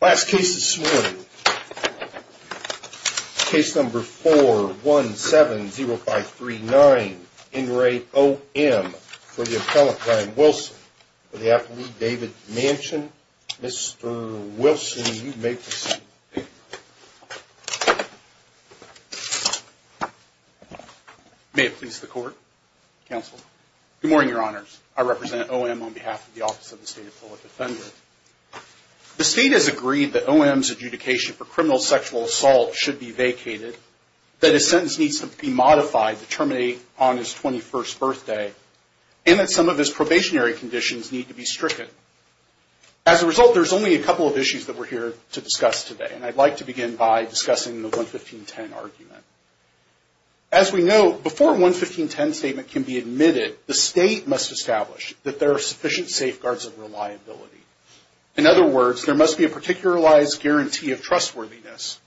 Last case this morning, case number 4170539, Ingrate O.M. for the appellant, Brian Wilson, for the athlete, David Manchin. Mr. Wilson, you may proceed. May it please the Court, Counsel. Good morning, Your Honors. I represent O.M. on behalf of the Office of the State Appellate Defender. The State has agreed that O.M.'s adjudication for criminal sexual assault should be vacated, that his sentence needs to be modified to terminate on his 21st birthday, and that some of his probationary conditions need to be stricken. As a result, there's only a couple of issues that we're here to discuss today, and I'd like to begin by discussing the 11510 argument. As we know, before a 11510 statement can be admitted, the State must establish that there are sufficient safeguards of reliability. In other words, there must be a particularized guarantee of trustworthiness.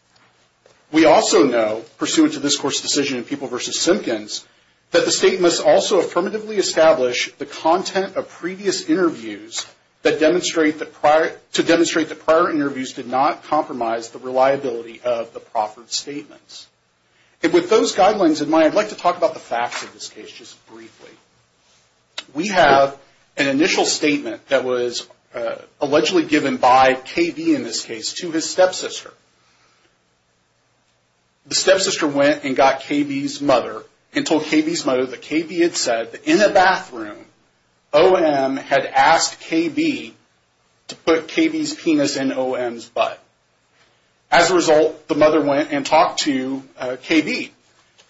We also know, pursuant to this Court's decision in People v. Simpkins, that the State must also affirmatively establish the content of previous interviews to demonstrate that prior interviews did not compromise the reliability of the proffered statements. And with those guidelines in mind, I'd like to talk about the facts of this case just briefly. We have an initial statement that was allegedly given by K.B., in this case, to his stepsister. The stepsister went and got K.B.'s mother and told K.B.'s mother that K.B. had said that in the bathroom, O.M. had asked K.B. to put K.B.'s penis in O.M.'s butt. As a result, the mother went and talked to K.B.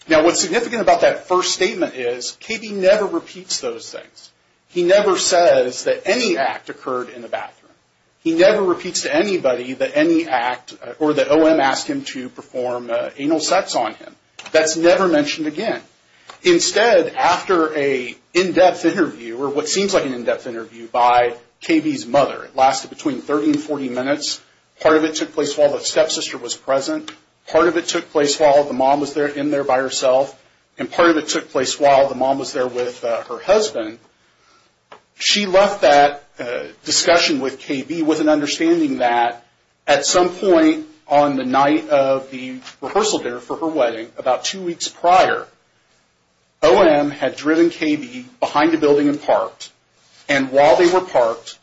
Now, what's significant about that first statement is K.B. never repeats those things. He never says that any act occurred in the bathroom. He never repeats to anybody that any act or that O.M. asked him to perform anal sex on him. That's never mentioned again. Instead, after an in-depth interview, or what seems like an in-depth interview, by K.B.'s mother, it lasted between 30 and 40 minutes. Part of it took place while the stepsister was present. Part of it took place while the mom was in there by herself. And part of it took place while the mom was there with her husband. She left that discussion with K.B. with an understanding that at some point on the night of the rehearsal dinner for her wedding, about two weeks prior, O.M. had driven K.B. behind a building and parked. And while they were parked,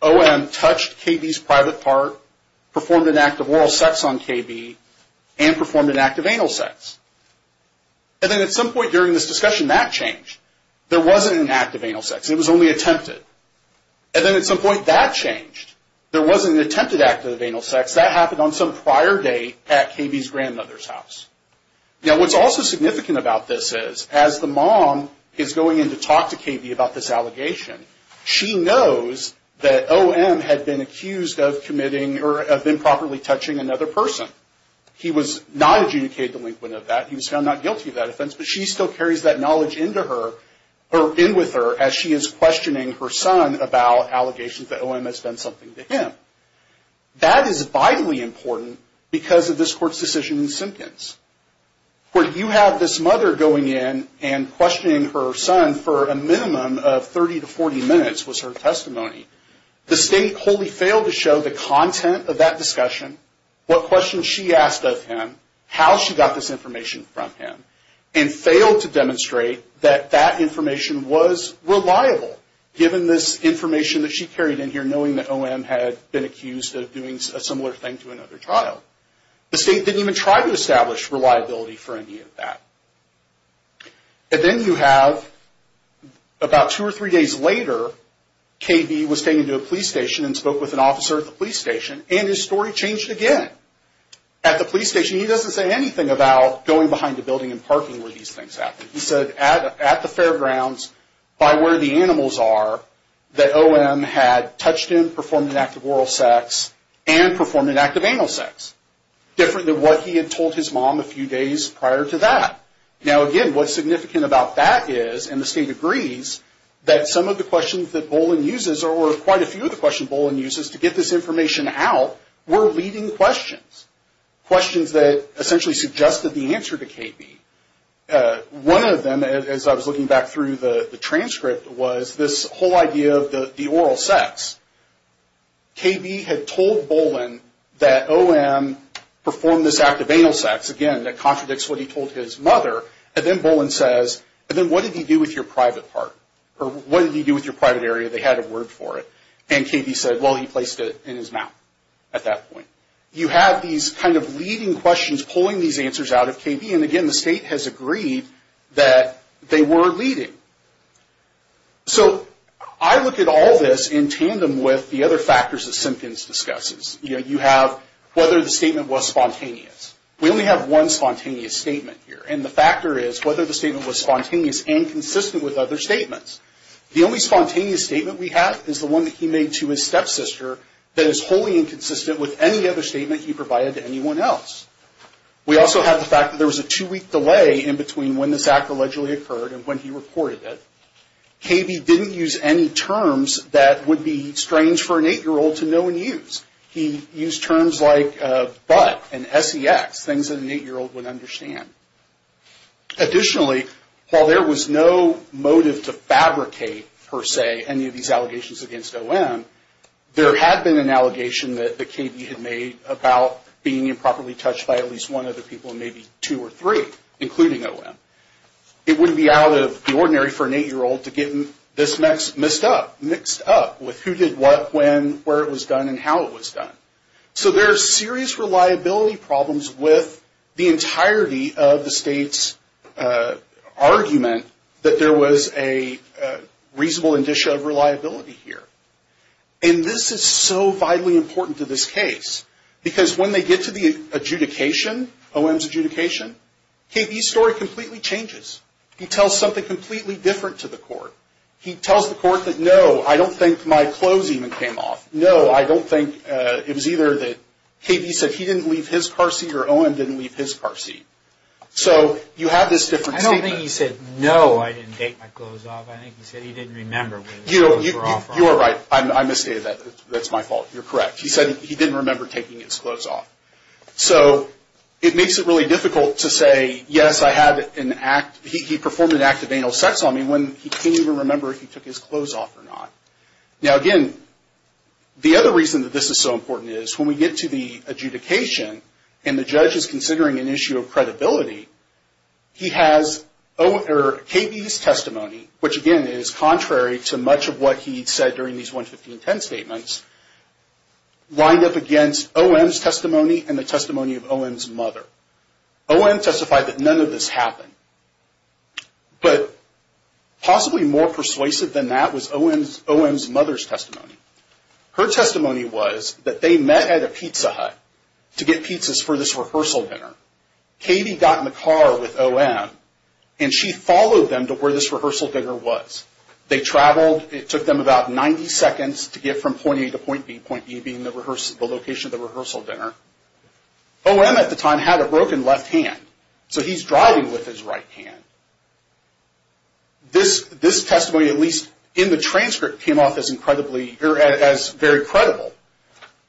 O.M. touched K.B.'s private part, performed an act of oral sex on K.B., and performed an act of anal sex. And then at some point during this discussion, that changed. There wasn't an act of anal sex. It was only attempted. And then at some point, that changed. There wasn't an attempted act of anal sex. That happened on some prior day at K.B.'s grandmother's house. Now, what's also significant about this is, as the mom is going in to talk to K.B. about this allegation, she knows that O.M. had been accused of committing or of improperly touching another person. He was not adjudicated delinquent of that. He was found not guilty of that offense. But she still carries that knowledge into her or in with her as she is questioning her son about allegations that O.M. has done something to him. That is vitally important because of this court's decision in Simpkins. Where you have this mother going in and questioning her son for a minimum of 30 to 40 minutes was her testimony. The state wholly failed to show the content of that discussion, what questions she asked of him, how she got this information from him, and failed to demonstrate that that information was reliable, given this information that she carried in here, knowing that O.M. had been accused of doing a similar thing to another child. The state didn't even try to establish reliability for any of that. And then you have, about two or three days later, K.B. was taken to a police station and spoke with an officer at the police station, and his story changed again. At the police station, he doesn't say anything about going behind a building and parking where these things happened. He said at the fairgrounds, by where the animals are, that O.M. had touched him, performed an act of oral sex, and performed an act of anal sex. Different than what he had told his mom a few days prior to that. Now again, what's significant about that is, and the state agrees, that some of the questions that Boland uses, or quite a few of the questions Boland uses to get this information out, were leading questions. Questions that essentially suggested the answer to K.B. One of them, as I was looking back through the transcript, was this whole idea of the oral sex. K.B. had told Boland that O.M. performed this act of anal sex. Again, that contradicts what he told his mother. And then Boland says, and then what did he do with your private part? Or what did he do with your private area? They had a word for it. And K.B. said, well, he placed it in his mouth at that point. You have these kind of leading questions pulling these answers out of K.B. And again, the state has agreed that they were leading. So I look at all this in tandem with the other factors that Simpkins discusses. You have whether the statement was spontaneous. We only have one spontaneous statement here. And the factor is whether the statement was spontaneous and consistent with other statements. The only spontaneous statement we have is the one that he made to his stepsister that is wholly inconsistent with any other statement he provided to anyone else. We also have the fact that there was a two-week delay in between when this act allegedly occurred and when he reported it. K.B. didn't use any terms that would be strange for an 8-year-old to know and use. He used terms like but and S-E-X, things that an 8-year-old would understand. Additionally, while there was no motive to fabricate, per se, any of these allegations against O.M., there had been an allegation that K.B. had made about being improperly touched by at least one other people and maybe two or three, including O.M. It wouldn't be out of the ordinary for an 8-year-old to get this mixed up with who did what, when, where it was done, and how it was done. So there are serious reliability problems with the entirety of the state's argument that there was a reasonable indicia of reliability here. And this is so vitally important to this case, because when they get to the adjudication, O.M.'s adjudication, K.B.'s story completely changes. He tells something completely different to the court. He tells the court that, no, I don't think my clothes even came off. No, I don't think it was either that K.B. said he didn't leave his car seat or O.M. didn't leave his car seat. So you have this different statement. I think he said, no, I didn't take my clothes off. I think he said he didn't remember when his clothes were off. You are right. I misstated that. That's my fault. You're correct. He said he didn't remember taking his clothes off. So it makes it really difficult to say, yes, I had an act. He performed an act of anal sex on me when he can't even remember if he took his clothes off or not. Now, again, the other reason that this is so important is when we get to the adjudication and the judge is considering an issue of credibility, he has K.B.'s testimony, which, again, is contrary to much of what he said during these 11510 statements, lined up against O.M.'s testimony and the testimony of O.M.'s mother. O.M. testified that none of this happened. But possibly more persuasive than that was O.M.'s mother's testimony. Her testimony was that they met at a pizza hut to get pizzas for this rehearsal dinner. K.B. got in the car with O.M. and she followed them to where this rehearsal dinner was. They traveled. It took them about 90 seconds to get from point A to point B, point B being the location of the rehearsal dinner. O.M. at the time had a broken left hand, so he's driving with his right hand. This testimony, at least in the transcript, came off as very credible.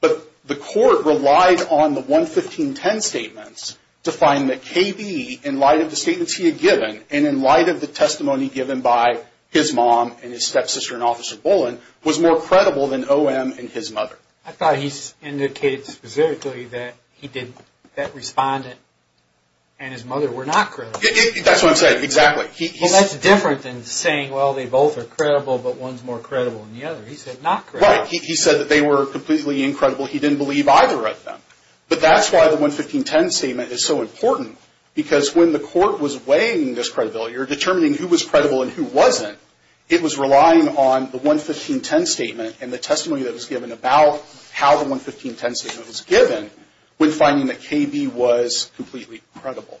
But the court relied on the 11510 statements to find that K.B., in light of the statements he had given and in light of the testimony given by his mom and his stepsister and Officer Bullen, was more credible than O.M. and his mother. I thought he indicated specifically that that respondent and his mother were not credible. That's what I'm saying. Exactly. Well, that's different than saying, well, they both are credible, but one's more credible than the other. He said not credible. Right. He said that they were completely incredible. He didn't believe either of them. But that's why the 11510 statement is so important, because when the court was weighing this credibility or determining who was credible and who wasn't, it was relying on the 11510 statement and the testimony that was given about how the 11510 statement was given when finding that K.B. was completely credible.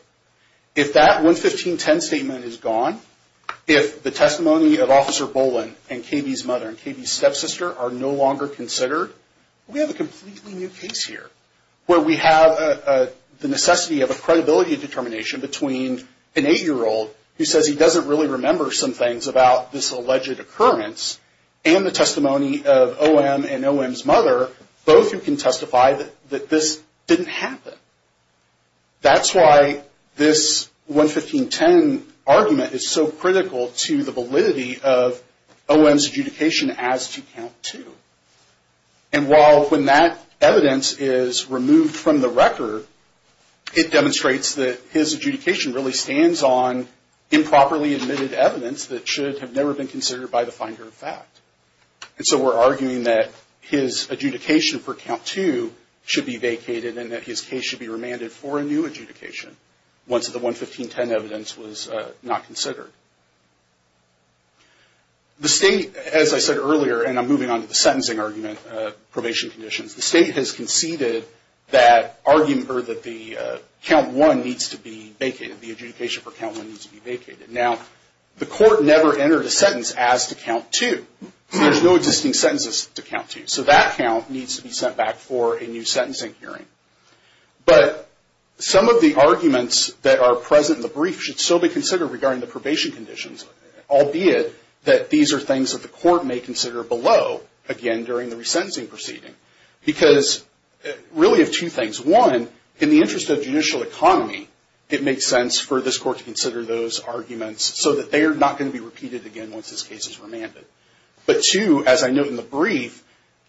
If that 11510 statement is gone, if the testimony of Officer Bullen and K.B.'s mother and K.B.'s stepsister are no longer considered, we have a completely new case here where we have the necessity of a credibility determination between an 8-year-old who says he doesn't really remember some things about this alleged occurrence and the testimony of O.M. and O.M.'s mother, both who can testify that this didn't happen. That's why this 11510 argument is so critical to the validity of O.M.'s adjudication as to Count Two. And while when that evidence is removed from the record, it demonstrates that his adjudication really stands on improperly admitted evidence that should have never been considered by the finder of fact. And so we're arguing that his adjudication for Count Two should be vacated and that his case should be remanded for a new adjudication once the 11510 evidence was not considered. The state, as I said earlier, and I'm moving on to the sentencing argument, probation conditions, the state has conceded that argument or that the Count One needs to be vacated, the adjudication for Count One needs to be vacated. Now, the court never entered a sentence as to Count Two. There's no existing sentences to Count Two. So that count needs to be sent back for a new sentencing hearing. But some of the arguments that are present in the brief should still be considered regarding the probation conditions, albeit that these are things that the court may consider below, again, during the resentencing proceeding. Because really of two things. One, in the interest of judicial economy, it makes sense for this court to consider those arguments so that they are not going to be repeated again once this case is remanded. But two, as I note in the brief,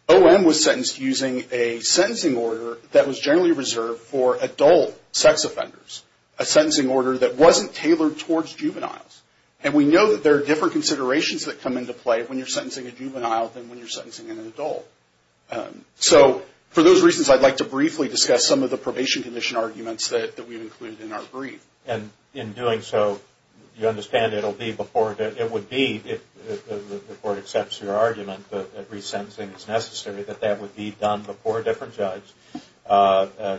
O.M. was sentenced using a sentencing order that was generally reserved for adult sex offenders, a sentencing order that wasn't tailored towards juveniles. And we know that there are different considerations that come into play when you're sentencing a juvenile than when you're sentencing an adult. So for those reasons, I'd like to briefly discuss some of the probation condition arguments that we've included in our brief. And in doing so, you understand it would be, if the court accepts your argument that resentencing is necessary, that that would be done before a different judge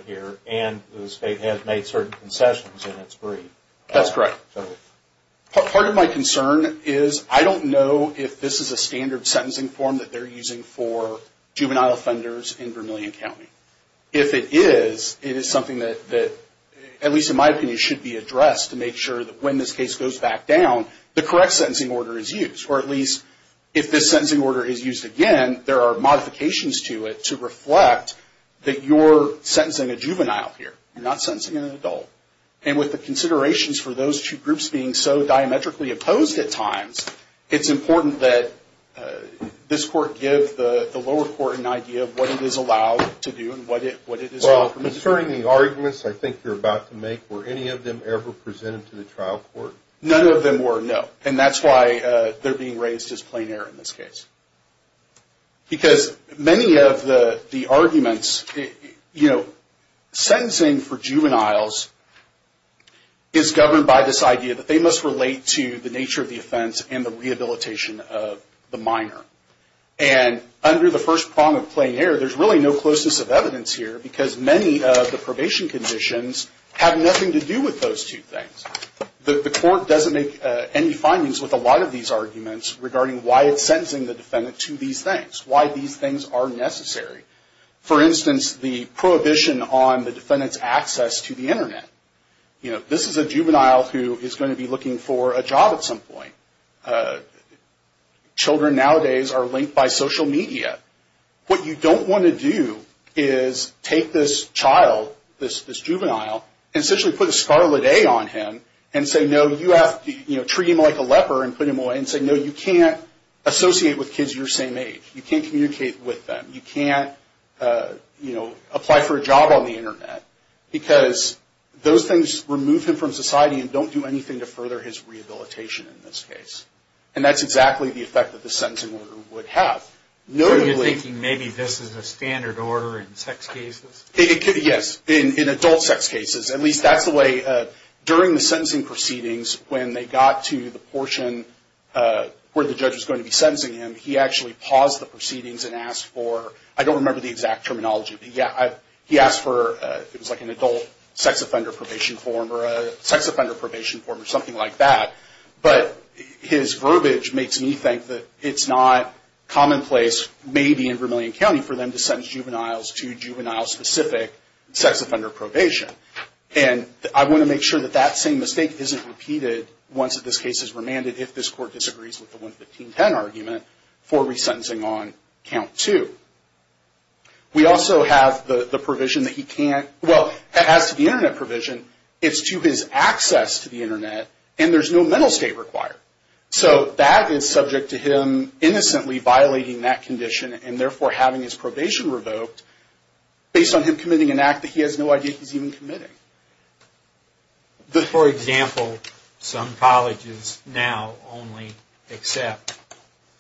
here. And the state has made certain concessions in its brief. That's correct. Part of my concern is I don't know if this is a standard sentencing form that they're using for juvenile offenders in Vermillion County. If it is, it is something that, at least in my opinion, should be addressed to make sure that when this case goes back down, the correct sentencing order is used. Or at least if this sentencing order is used again, there are modifications to it to reflect that you're sentencing a juvenile here. You're not sentencing an adult. And with the considerations for those two groups being so diametrically opposed at times, it's important that this court give the lower court an idea of what it is allowed to do and what it is not permitted to do. Well, concerning the arguments I think you're about to make, were any of them ever presented to the trial court? None of them were, no. And that's why they're being raised as plain error in this case. Because many of the arguments, you know, sentencing for juveniles is governed by this idea that they must relate to the nature of the offense and the rehabilitation of the minor. And under the first prong of plain error, there's really no closeness of evidence here, because many of the probation conditions have nothing to do with those two things. The court doesn't make any findings with a lot of these arguments regarding why it's sentencing the defendant to these things, why these things are necessary. For instance, the prohibition on the defendant's access to the Internet. This is a juvenile who is going to be looking for a job at some point. Children nowadays are linked by social media. What you don't want to do is take this child, this juvenile, and essentially put a scarlet A on him and say, no, you have to treat him like a leper and put him away, and say, no, you can't associate with kids your same age. You can't communicate with them. You can't, you know, apply for a job on the Internet, because those things remove him from society and don't do anything to further his rehabilitation in this case. And that's exactly the effect that the sentencing order would have. So you're thinking maybe this is a standard order in sex cases? Yes, in adult sex cases. At least that's the way, during the sentencing proceedings, when they got to the portion where the judge was going to be sentencing him, he actually paused the proceedings and asked for, I don't remember the exact terminology, but he asked for, it was like an adult sex offender probation form or a sex offender probation form or something like that. But his verbiage makes me think that it's not commonplace, maybe in Vermillion County, for them to sentence juveniles to juvenile-specific sex offender probation. And I want to make sure that that same mistake isn't repeated once this case is remanded, if this court disagrees with the 11510 argument, for resentencing on Count 2. We also have the provision that he can't, well, as to the Internet provision, it's to his access to the Internet, and there's no mental state required. So that is subject to him innocently violating that condition and therefore having his probation revoked based on him committing an act that he has no idea he's even committing. For example, some colleges now only accept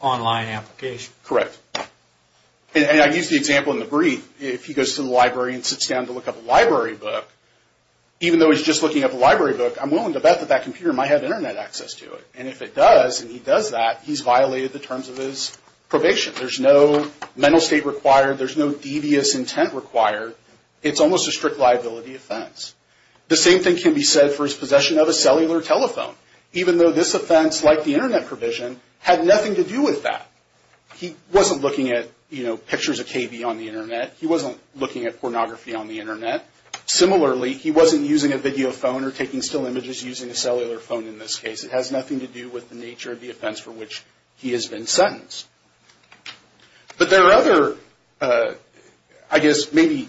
online applications. Correct. And I used the example in the brief. If he goes to the library and sits down to look up a library book, even though he's just looking up a library book, I'm willing to bet that that computer might have Internet access to it. And if it does, and he does that, he's violated the terms of his probation. There's no mental state required. There's no devious intent required. It's almost a strict liability offense. The same thing can be said for his possession of a cellular telephone, even though this offense, like the Internet provision, had nothing to do with that. He wasn't looking at, you know, pictures of KB on the Internet. He wasn't looking at pornography on the Internet. Similarly, he wasn't using a video phone or taking still images using a cellular phone in this case. It has nothing to do with the nature of the offense for which he has been sentenced. But there are other, I guess, maybe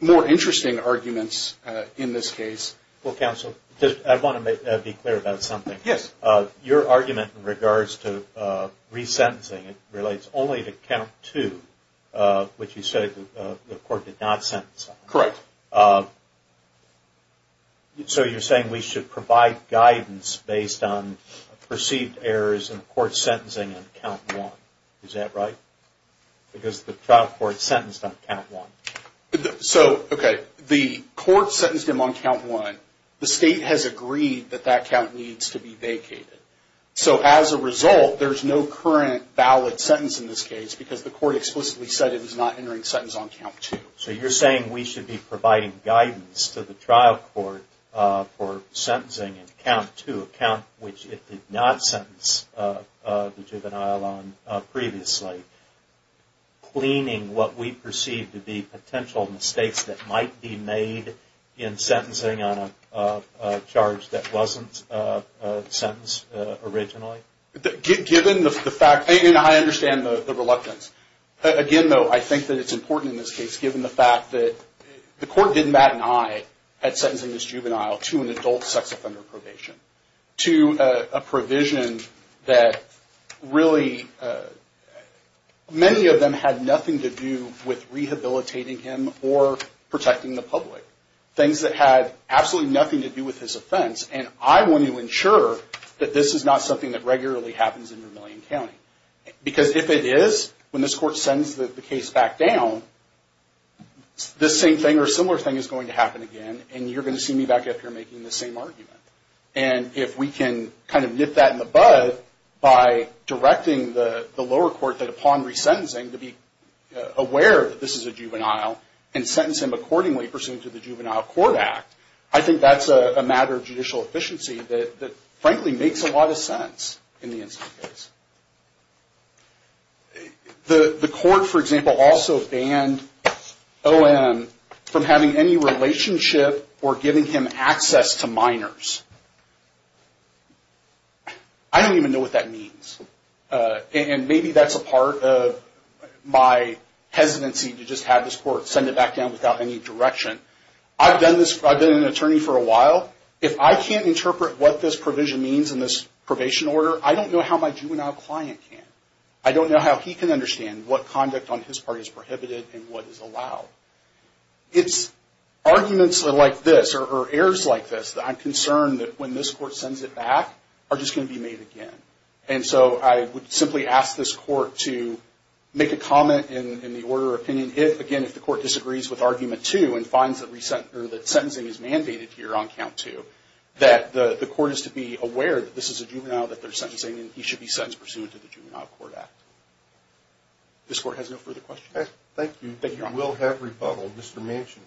more interesting arguments in this case. Well, counsel, I want to be clear about something. Yes. Your argument in regards to resentencing relates only to count two, which you said the court did not sentence him. Correct. So you're saying we should provide guidance based on perceived errors in court sentencing on count one. Is that right? Because the trial court sentenced him on count one. So, okay, the court sentenced him on count one. The state has agreed that that count needs to be vacated. So as a result, there's no current valid sentence in this case because the court explicitly said it was not entering sentence on count two. So you're saying we should be providing guidance to the trial court for sentencing in count two, a count which it did not sentence the juvenile on previously, cleaning what we perceive to be potential mistakes that might be made in sentencing on a charge that wasn't sentenced originally? Given the fact, and I understand the reluctance. Again, though, I think that it's important in this case, given the fact that the court didn't bat an eye at sentencing this juvenile to an adult sex offender probation. To a provision that really, many of them had nothing to do with rehabilitating him or protecting the public. Things that had absolutely nothing to do with his offense. And I want to ensure that this is not something that regularly happens in Vermillion County. Because if it is, when this court sends the case back down, this same thing or similar thing is going to happen again and you're going to see me back after making the same argument. And if we can kind of nip that in the bud by directing the lower court that upon resentencing, to be aware that this is a juvenile and sentence him accordingly pursuant to the Juvenile Court Act. I think that's a matter of judicial efficiency that frankly makes a lot of sense in the instant case. The court, for example, also banned O.M. from having any relationship or giving him access to minors. I don't even know what that means. And maybe that's a part of my hesitancy to just have this court send it back down without any direction. I've been an attorney for a while. If I can't interpret what this provision means in this probation order, I don't know how my juvenile client can. I don't know how he can understand what conduct on his part is prohibited and what is allowed. It's arguments like this or errors like this that I'm concerned that when this court sends it back are just going to be made again. And so I would simply ask this court to make a comment in the order of opinion if, again, if the court disagrees with argument two and finds that sentencing is mandated here on count two, that the court is to be aware that this is a juvenile that they're sentencing and he should be sentenced pursuant to the Juvenile Court Act. This court has no further questions? Thank you. We'll have rebuttal. Mr. Manchin.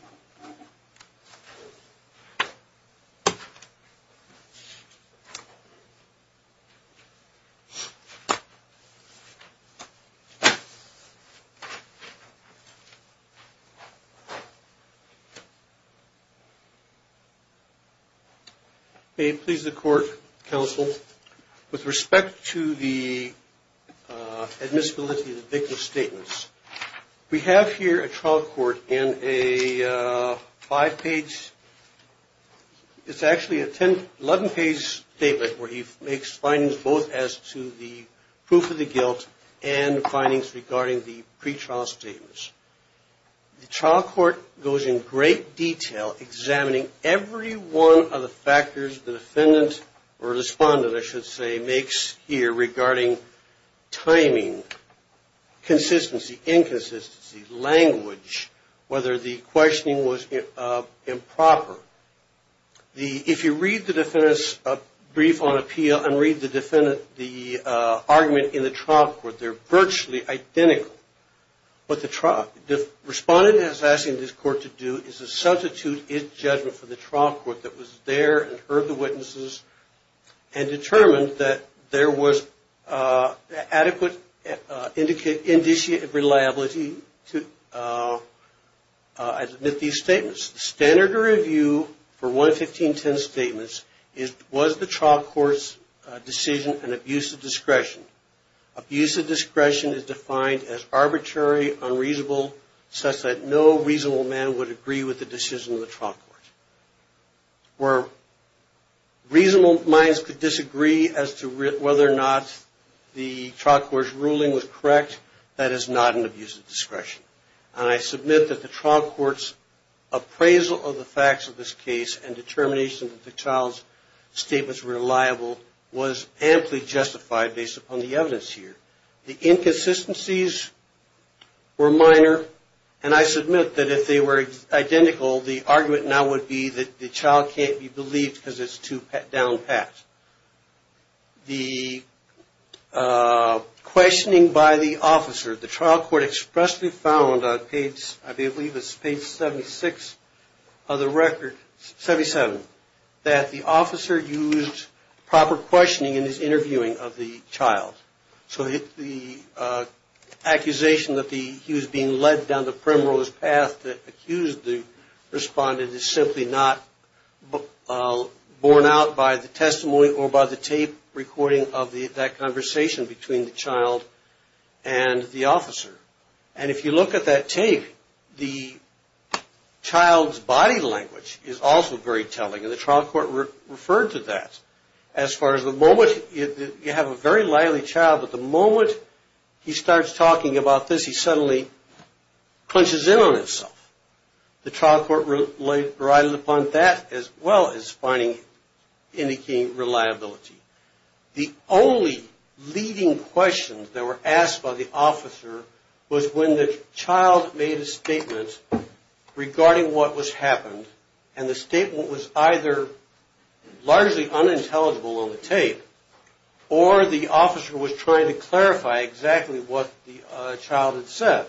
May it please the court, counsel, with respect to the admissibility of the victim's statements, we have here a trial court in a five-page, it's actually an 11-page statement where he makes findings both as to the proof of the guilt and findings regarding the pretrial statements. The trial court goes in great detail examining every one of the factors the defendant or respondent I should say makes here regarding timing, consistency, inconsistency, language, whether the questioning was improper. If you read the defendant's brief on appeal and read the argument in the trial court, they're virtually identical. What the respondent is asking this court to do is to substitute its judgment for the trial court that was there and heard the witnesses and determined that there was adequate indicative reliability to admit these statements. The standard to review for 11510 statements was the trial court's decision and abuse of discretion. Abuse of discretion is defined as arbitrary, unreasonable, such that no reasonable man would agree with the decision of the trial court. Where reasonable minds could disagree as to whether or not the trial court's ruling was correct, that is not an abuse of discretion. And I submit that the trial court's appraisal of the facts of this case and determination that the child's statement was reliable was amply justified based upon the evidence here. The inconsistencies were minor and I submit that if they were identical, the argument now would be that the child can't be believed because it's too down pat. The questioning by the officer, the trial court expressly found on page, I believe it's page 76 of the record, 77, that the officer used proper questioning in his interviewing of the child. So the accusation that he was being led down the primrose path that accused the respondent is simply not borne out by the testimony or by the tape recording of that conversation between the child and the officer. And if you look at that tape, the child's body language is also very telling and the trial court referred to that as far as the moment you have a very lively child, but the moment he starts talking about this, he suddenly clenches in on himself. The trial court relied upon that as well as finding, indicating reliability. The only leading questions that were asked by the officer was when the child made a statement regarding what was happened and the statement was either largely unintelligible on the tape or the officer was trying to clarify exactly what the child had said.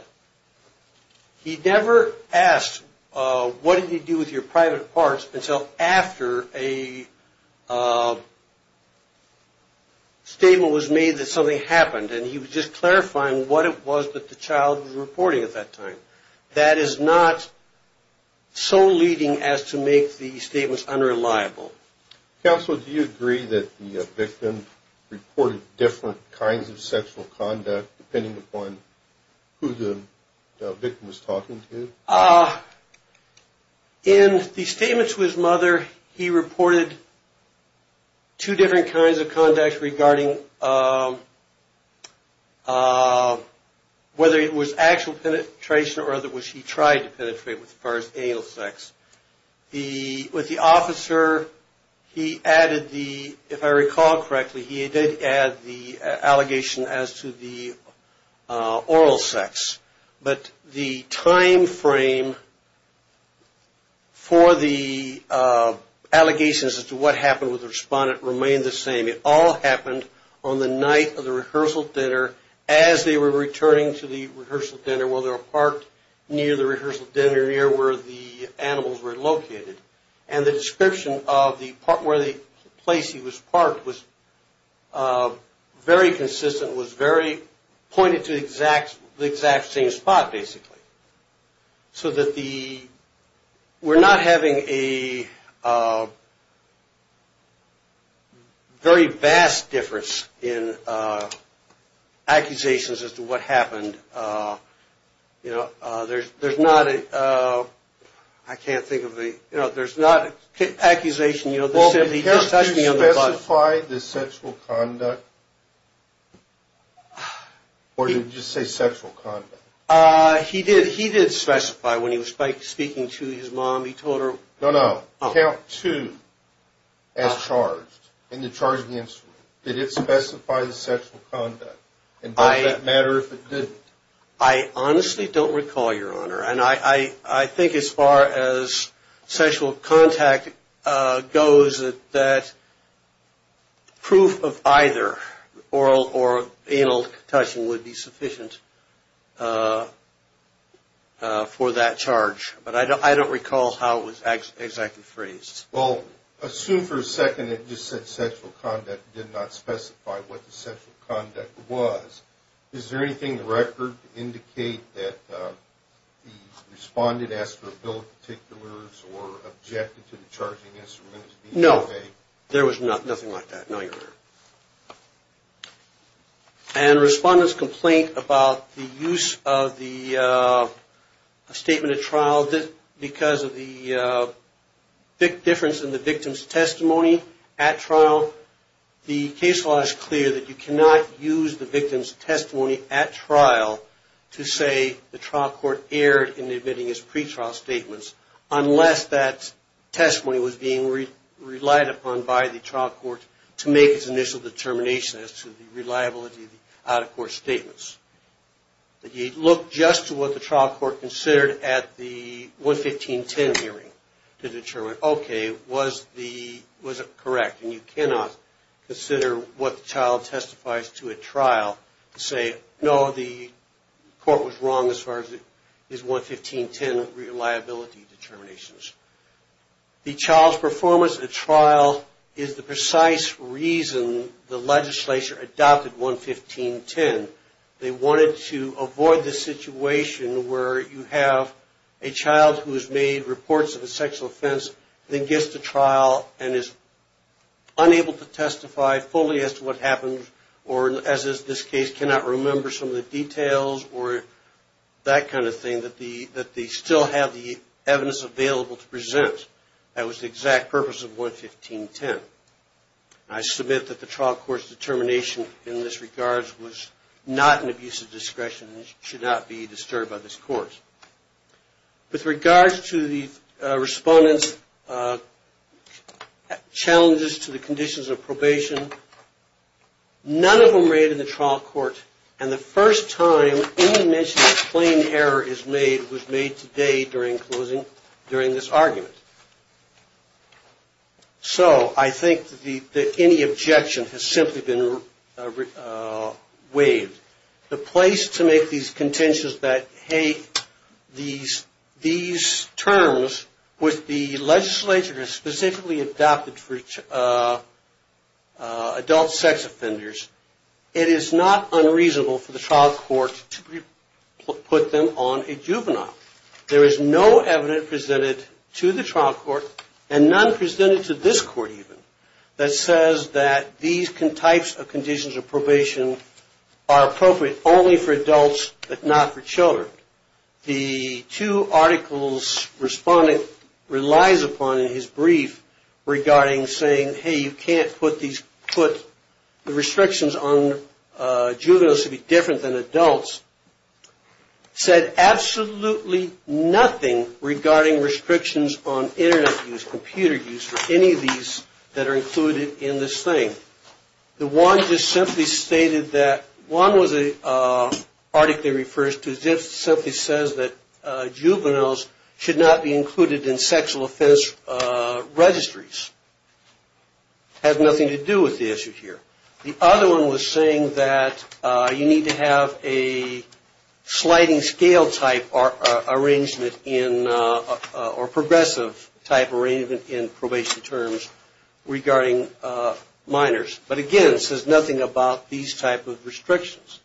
He never asked what did he do with your private parts until after a statement was made that something happened and he was just clarifying what it was that the child was reporting at that time. That is not so leading as to make the statements unreliable. Counsel, do you agree that the victim reported different kinds of sexual conduct depending upon who the victim was talking to? In the statement to his mother, he reported two different kinds of conduct regarding whether it was actual penetration or whether he tried to penetrate as far as anal sex. With the officer, if I recall correctly, he did add the allegation as to the oral sex, but the time frame for the allegations as to what happened with the respondent remained the same. It all happened on the night of the rehearsal dinner as they were returning to the rehearsal dinner where they were parked near the rehearsal dinner near where the animals were located and the description of the place he was parked was very consistent, was very pointed to the exact same spot basically. So we're not having a very vast difference in accusations as to what happened. There's not an accusation that said he just touched me on the butt. Well, did he specify the sexual conduct or did he just say sexual conduct? He did specify when he was speaking to his mom. He told her... No, no. Count two as charged in the charging instrument. Did it specify the sexual conduct and does that matter if it didn't? I honestly don't recall, Your Honor. And I think as far as sexual contact goes that proof of either oral or anal touching would be sufficient for that charge. But I don't recall how it was exactly phrased. Well, assume for a second it just said sexual conduct and did not specify what the sexual conduct was. Is there anything in the record to indicate that the respondent asked for a bill of particulars or objected to the charging instrument? No. There was nothing like that, no, Your Honor. And the respondent's complaint about the use of the statement at trial Now, the case law is clear that you cannot use the victim's testimony at trial to say the trial court erred in admitting his pretrial statements unless that testimony was being relied upon by the trial court to make its initial determination as to the reliability of the out-of-court statements. You look just to what the trial court considered at the 11510 hearing to determine, okay, was it correct? And you cannot consider what the child testifies to at trial to say, no, the court was wrong as far as his 11510 reliability determinations. The child's performance at trial is the precise reason the legislature adopted 11510. They wanted to avoid the situation where you have a child who has made reports of a sexual offense, then gets to trial, and is unable to testify fully as to what happened or, as is this case, cannot remember some of the details or that kind of thing, and that they still have the evidence available to present. That was the exact purpose of 11510. I submit that the trial court's determination in this regard was not an abuse of discretion and should not be disturbed by this court. With regards to the respondent's challenges to the conditions of probation, none of them were made in the trial court, and the first time any mention of plain error was made today during this argument. So I think that any objection has simply been waived. The place to make these contentions that, hey, these terms with the legislature specifically adopted for adult sex offenders, it is not unreasonable for the trial court to put them on a juvenile. There is no evidence presented to the trial court, and none presented to this court even, that says that these types of conditions of probation are appropriate only for adults but not for children. The two articles respondent relies upon in his brief regarding saying, hey, you can't put the restrictions on juveniles to be different than adults, said absolutely nothing regarding restrictions on Internet use, computer use, or any of these that are included in this thing. The one just simply stated that, one was an article that refers to, just simply says that juveniles should not be included in sexual offense registries. Has nothing to do with the issue here. The other one was saying that you need to have a sliding scale type arrangement in, or progressive type arrangement in probation terms regarding minors. But again, it says nothing about these type of restrictions.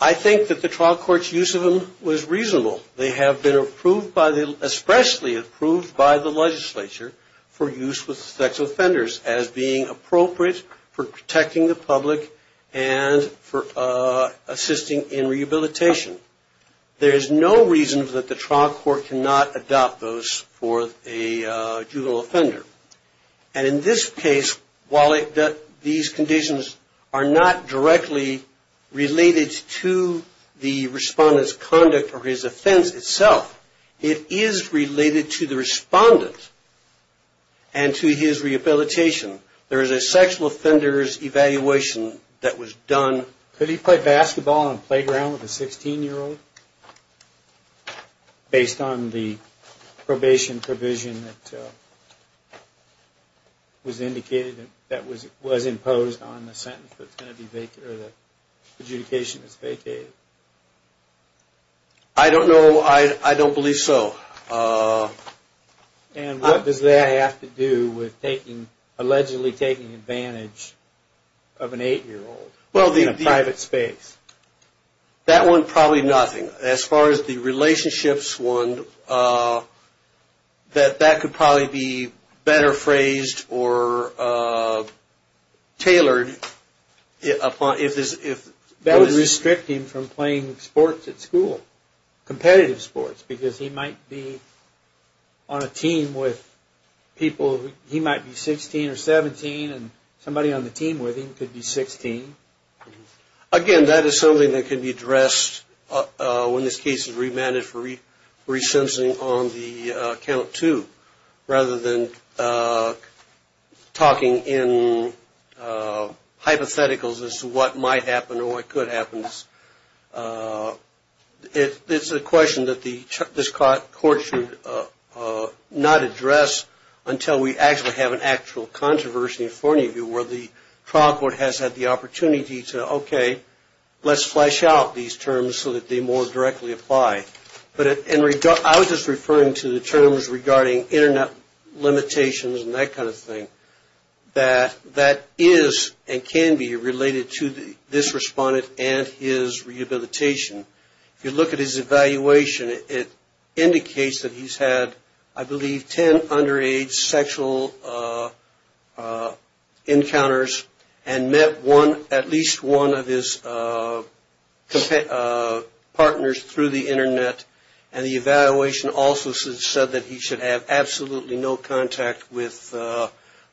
I think that the trial court's use of them was reasonable. They have been approved by the, especially approved by the legislature for use with sex offenders, as being appropriate for protecting the public and for assisting in rehabilitation. There is no reason that the trial court cannot adopt those for a juvenile offender. And in this case, while these conditions are not directly related to the respondent's conduct or his offense itself, it is related to the respondent and to his rehabilitation. There is a sexual offender's evaluation that was done. Could he play basketball on a playground with a 16-year-old, based on the probation provision that was imposed on the sentence, that the adjudication was vacated? I don't know. I don't believe so. And what does that have to do with allegedly taking advantage of an 8-year-old? In a private space. That one, probably nothing. As far as the relationships one, that could probably be better phrased or tailored. That would restrict him from playing sports at school, competitive sports, because he might be on a team with people, he might be 16 or 17, and somebody on the team with him could be 16. Again, that is something that can be addressed when this case is remanded for resensing on the count two, rather than talking in hypotheticals as to what might happen or what could happen. It's a question that this court should not address until we actually have an actual controversy in front of you, where the trial court has had the opportunity to, okay, let's flesh out these terms so that they more directly apply. But I was just referring to the terms regarding internet limitations and that kind of thing, that that is and can be related to this respondent and his rehabilitation. If you look at his evaluation, it indicates that he's had, I believe, 10 underage sexual encounters and met at least one of his partners through the internet, and the evaluation also said that he should have absolutely no contact with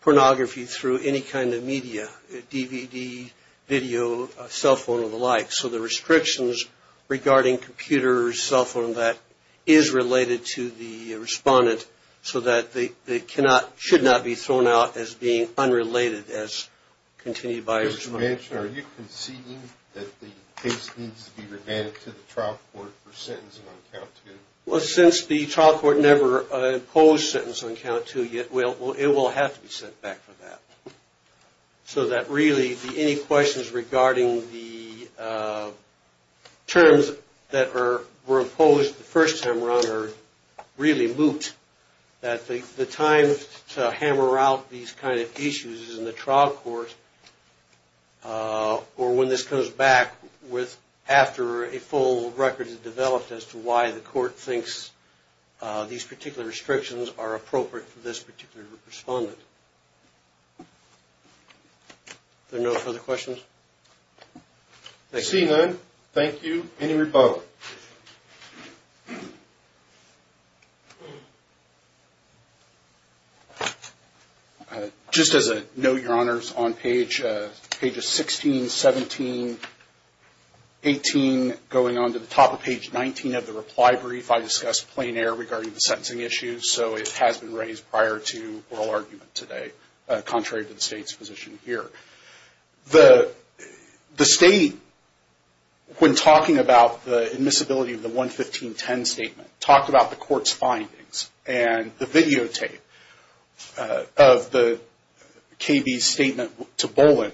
pornography through any kind of media, DVD, video, cell phone, or the like. So the restrictions regarding computer or cell phone and that is related to the respondent so that they should not be thrown out as being unrelated as continued by a respondent. Are you conceding that the case needs to be remanded to the trial court for sentencing on count two? Well, since the trial court never imposed sentencing on count two, it will have to be sent back for that. So that really any questions regarding the terms that were imposed the first time around are really moot, that the time to hammer out these kind of issues is in the trial court, or when this comes back after a full record is developed as to why the court thinks these particular restrictions are appropriate for this particular respondent. Are there no further questions? Seeing none, thank you. Any rebuttal? Just as a note, Your Honors, on pages 16, 17, 18, going on to the top of page 19 of the reply brief, I discussed plain error regarding the sentencing issues. So it has been raised prior to oral argument today, contrary to the State's position here. The State, when talking about the admissibility of the 11510 statement, talked about the court's findings and the videotape of the KB's statement to Boland.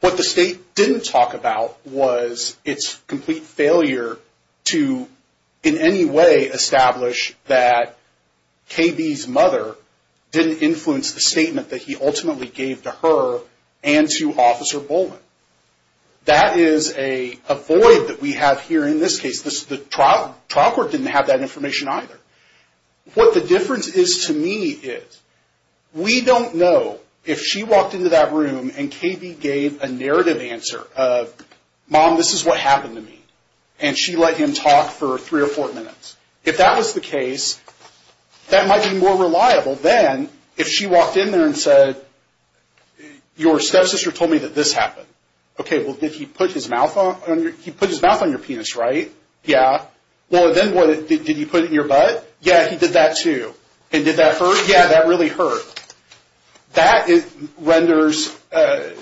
What the State didn't talk about was its complete failure to, in any way, establish that KB's mother didn't influence the statement that he ultimately gave to her and to Officer Boland. That is a void that we have here in this case. The trial court didn't have that information either. What the difference is to me is we don't know if she walked into that room and KB gave a narrative answer of, Mom, this is what happened to me, and she let him talk for three or four minutes. If that was the case, that might be more reliable than if she walked in there and said, Your stepsister told me that this happened. Okay, well, did he put his mouth on your penis, right? Yeah. Well, then what, did he put it in your butt? Yeah, he did that too. And did that hurt? Yeah, that really hurt. That renders a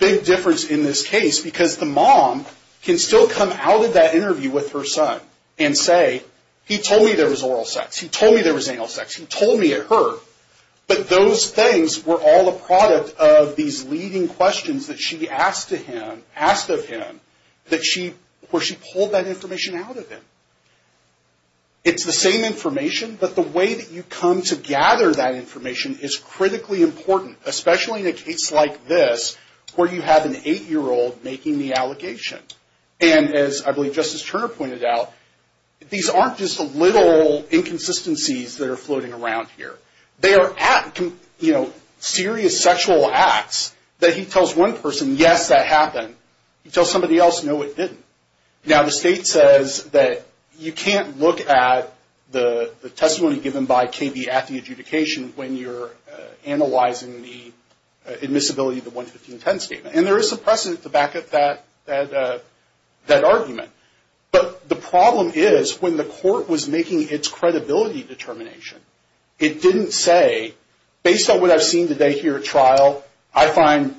big difference in this case because the mom can still come out of that interview with her son and say, He told me there was oral sex. He told me there was anal sex. He told me it hurt. But those things were all a product of these leading questions that she asked of him, where she pulled that information out of him. It's the same information, but the way that you come to gather that information is critically important, especially in a case like this where you have an eight-year-old making the allegation. And as I believe Justice Turner pointed out, these aren't just little inconsistencies that are floating around here. They are serious sexual acts that he tells one person, Yes, that happened. He tells somebody else, No, it didn't. Now, the state says that you can't look at the testimony given by KB at the adjudication when you're analyzing the admissibility of the 11510 statement. And there is some precedent to back up that argument. But the problem is when the court was making its credibility determination, it didn't say, Based on what I've seen today here at trial, I find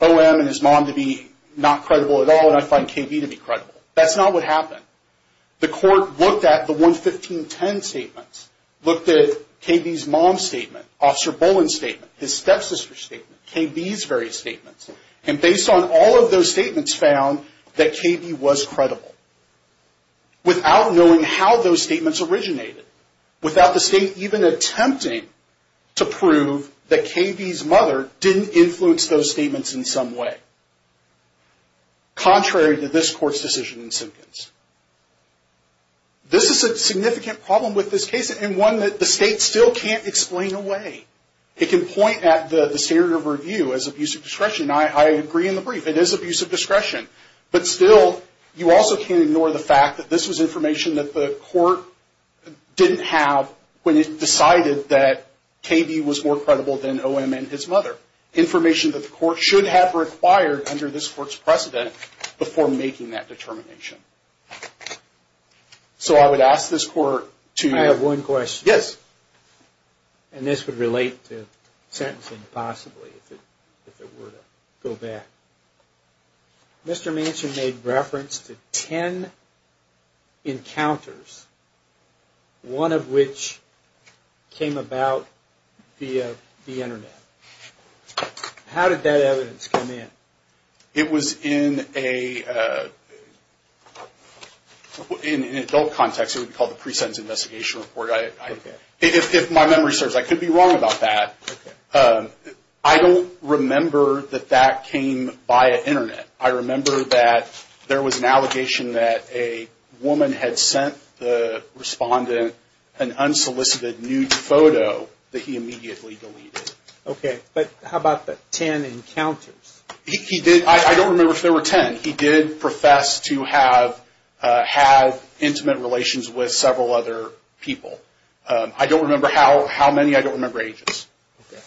OM and his mom to be not credible at all, and I find KB to be credible. That's not what happened. The court looked at the 11510 statements, looked at KB's mom's statement, Officer Boland's statement, his stepsister's statement, KB's various statements, and based on all of those statements found that KB was credible. Without knowing how those statements originated. Without the state even attempting to prove that KB's mother didn't influence those statements in some way. Contrary to this court's decision in Simpkins. This is a significant problem with this case, and one that the state still can't explain away. It can point at the standard of review as abuse of discretion. It is abuse of discretion. But still, you also can't ignore the fact that this was information that the court didn't have when it decided that KB was more credible than OM and his mother. Information that the court should have required under this court's precedent before making that determination. So I would ask this court to... I have one question. Yes. And this would relate to sentencing possibly if it were to go back. Mr. Manson made reference to 10 encounters. One of which came about via the internet. How did that evidence come in? It was in an adult context. It would be called the pre-sentence investigation report. If my memory serves, I could be wrong about that. I don't remember that that came via internet. I remember that there was an allegation that a woman had sent the respondent an unsolicited nude photo that he immediately deleted. Okay, but how about the 10 encounters? I don't remember if there were 10. He did profess to have intimate relations with several other people. I don't remember how many. I don't remember ages. Okay.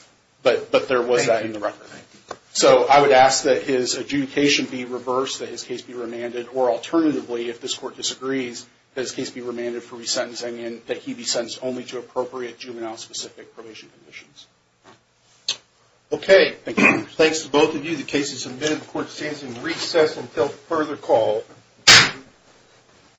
But there was that in the record. Thank you. So I would ask that his adjudication be reversed, that his case be remanded. Or alternatively, if this court disagrees, that his case be remanded for resentencing and that he be sentenced only to appropriate juvenile-specific probation conditions. Okay. Thank you. Thanks to both of you. The case is admitted. The court stands in recess until further call.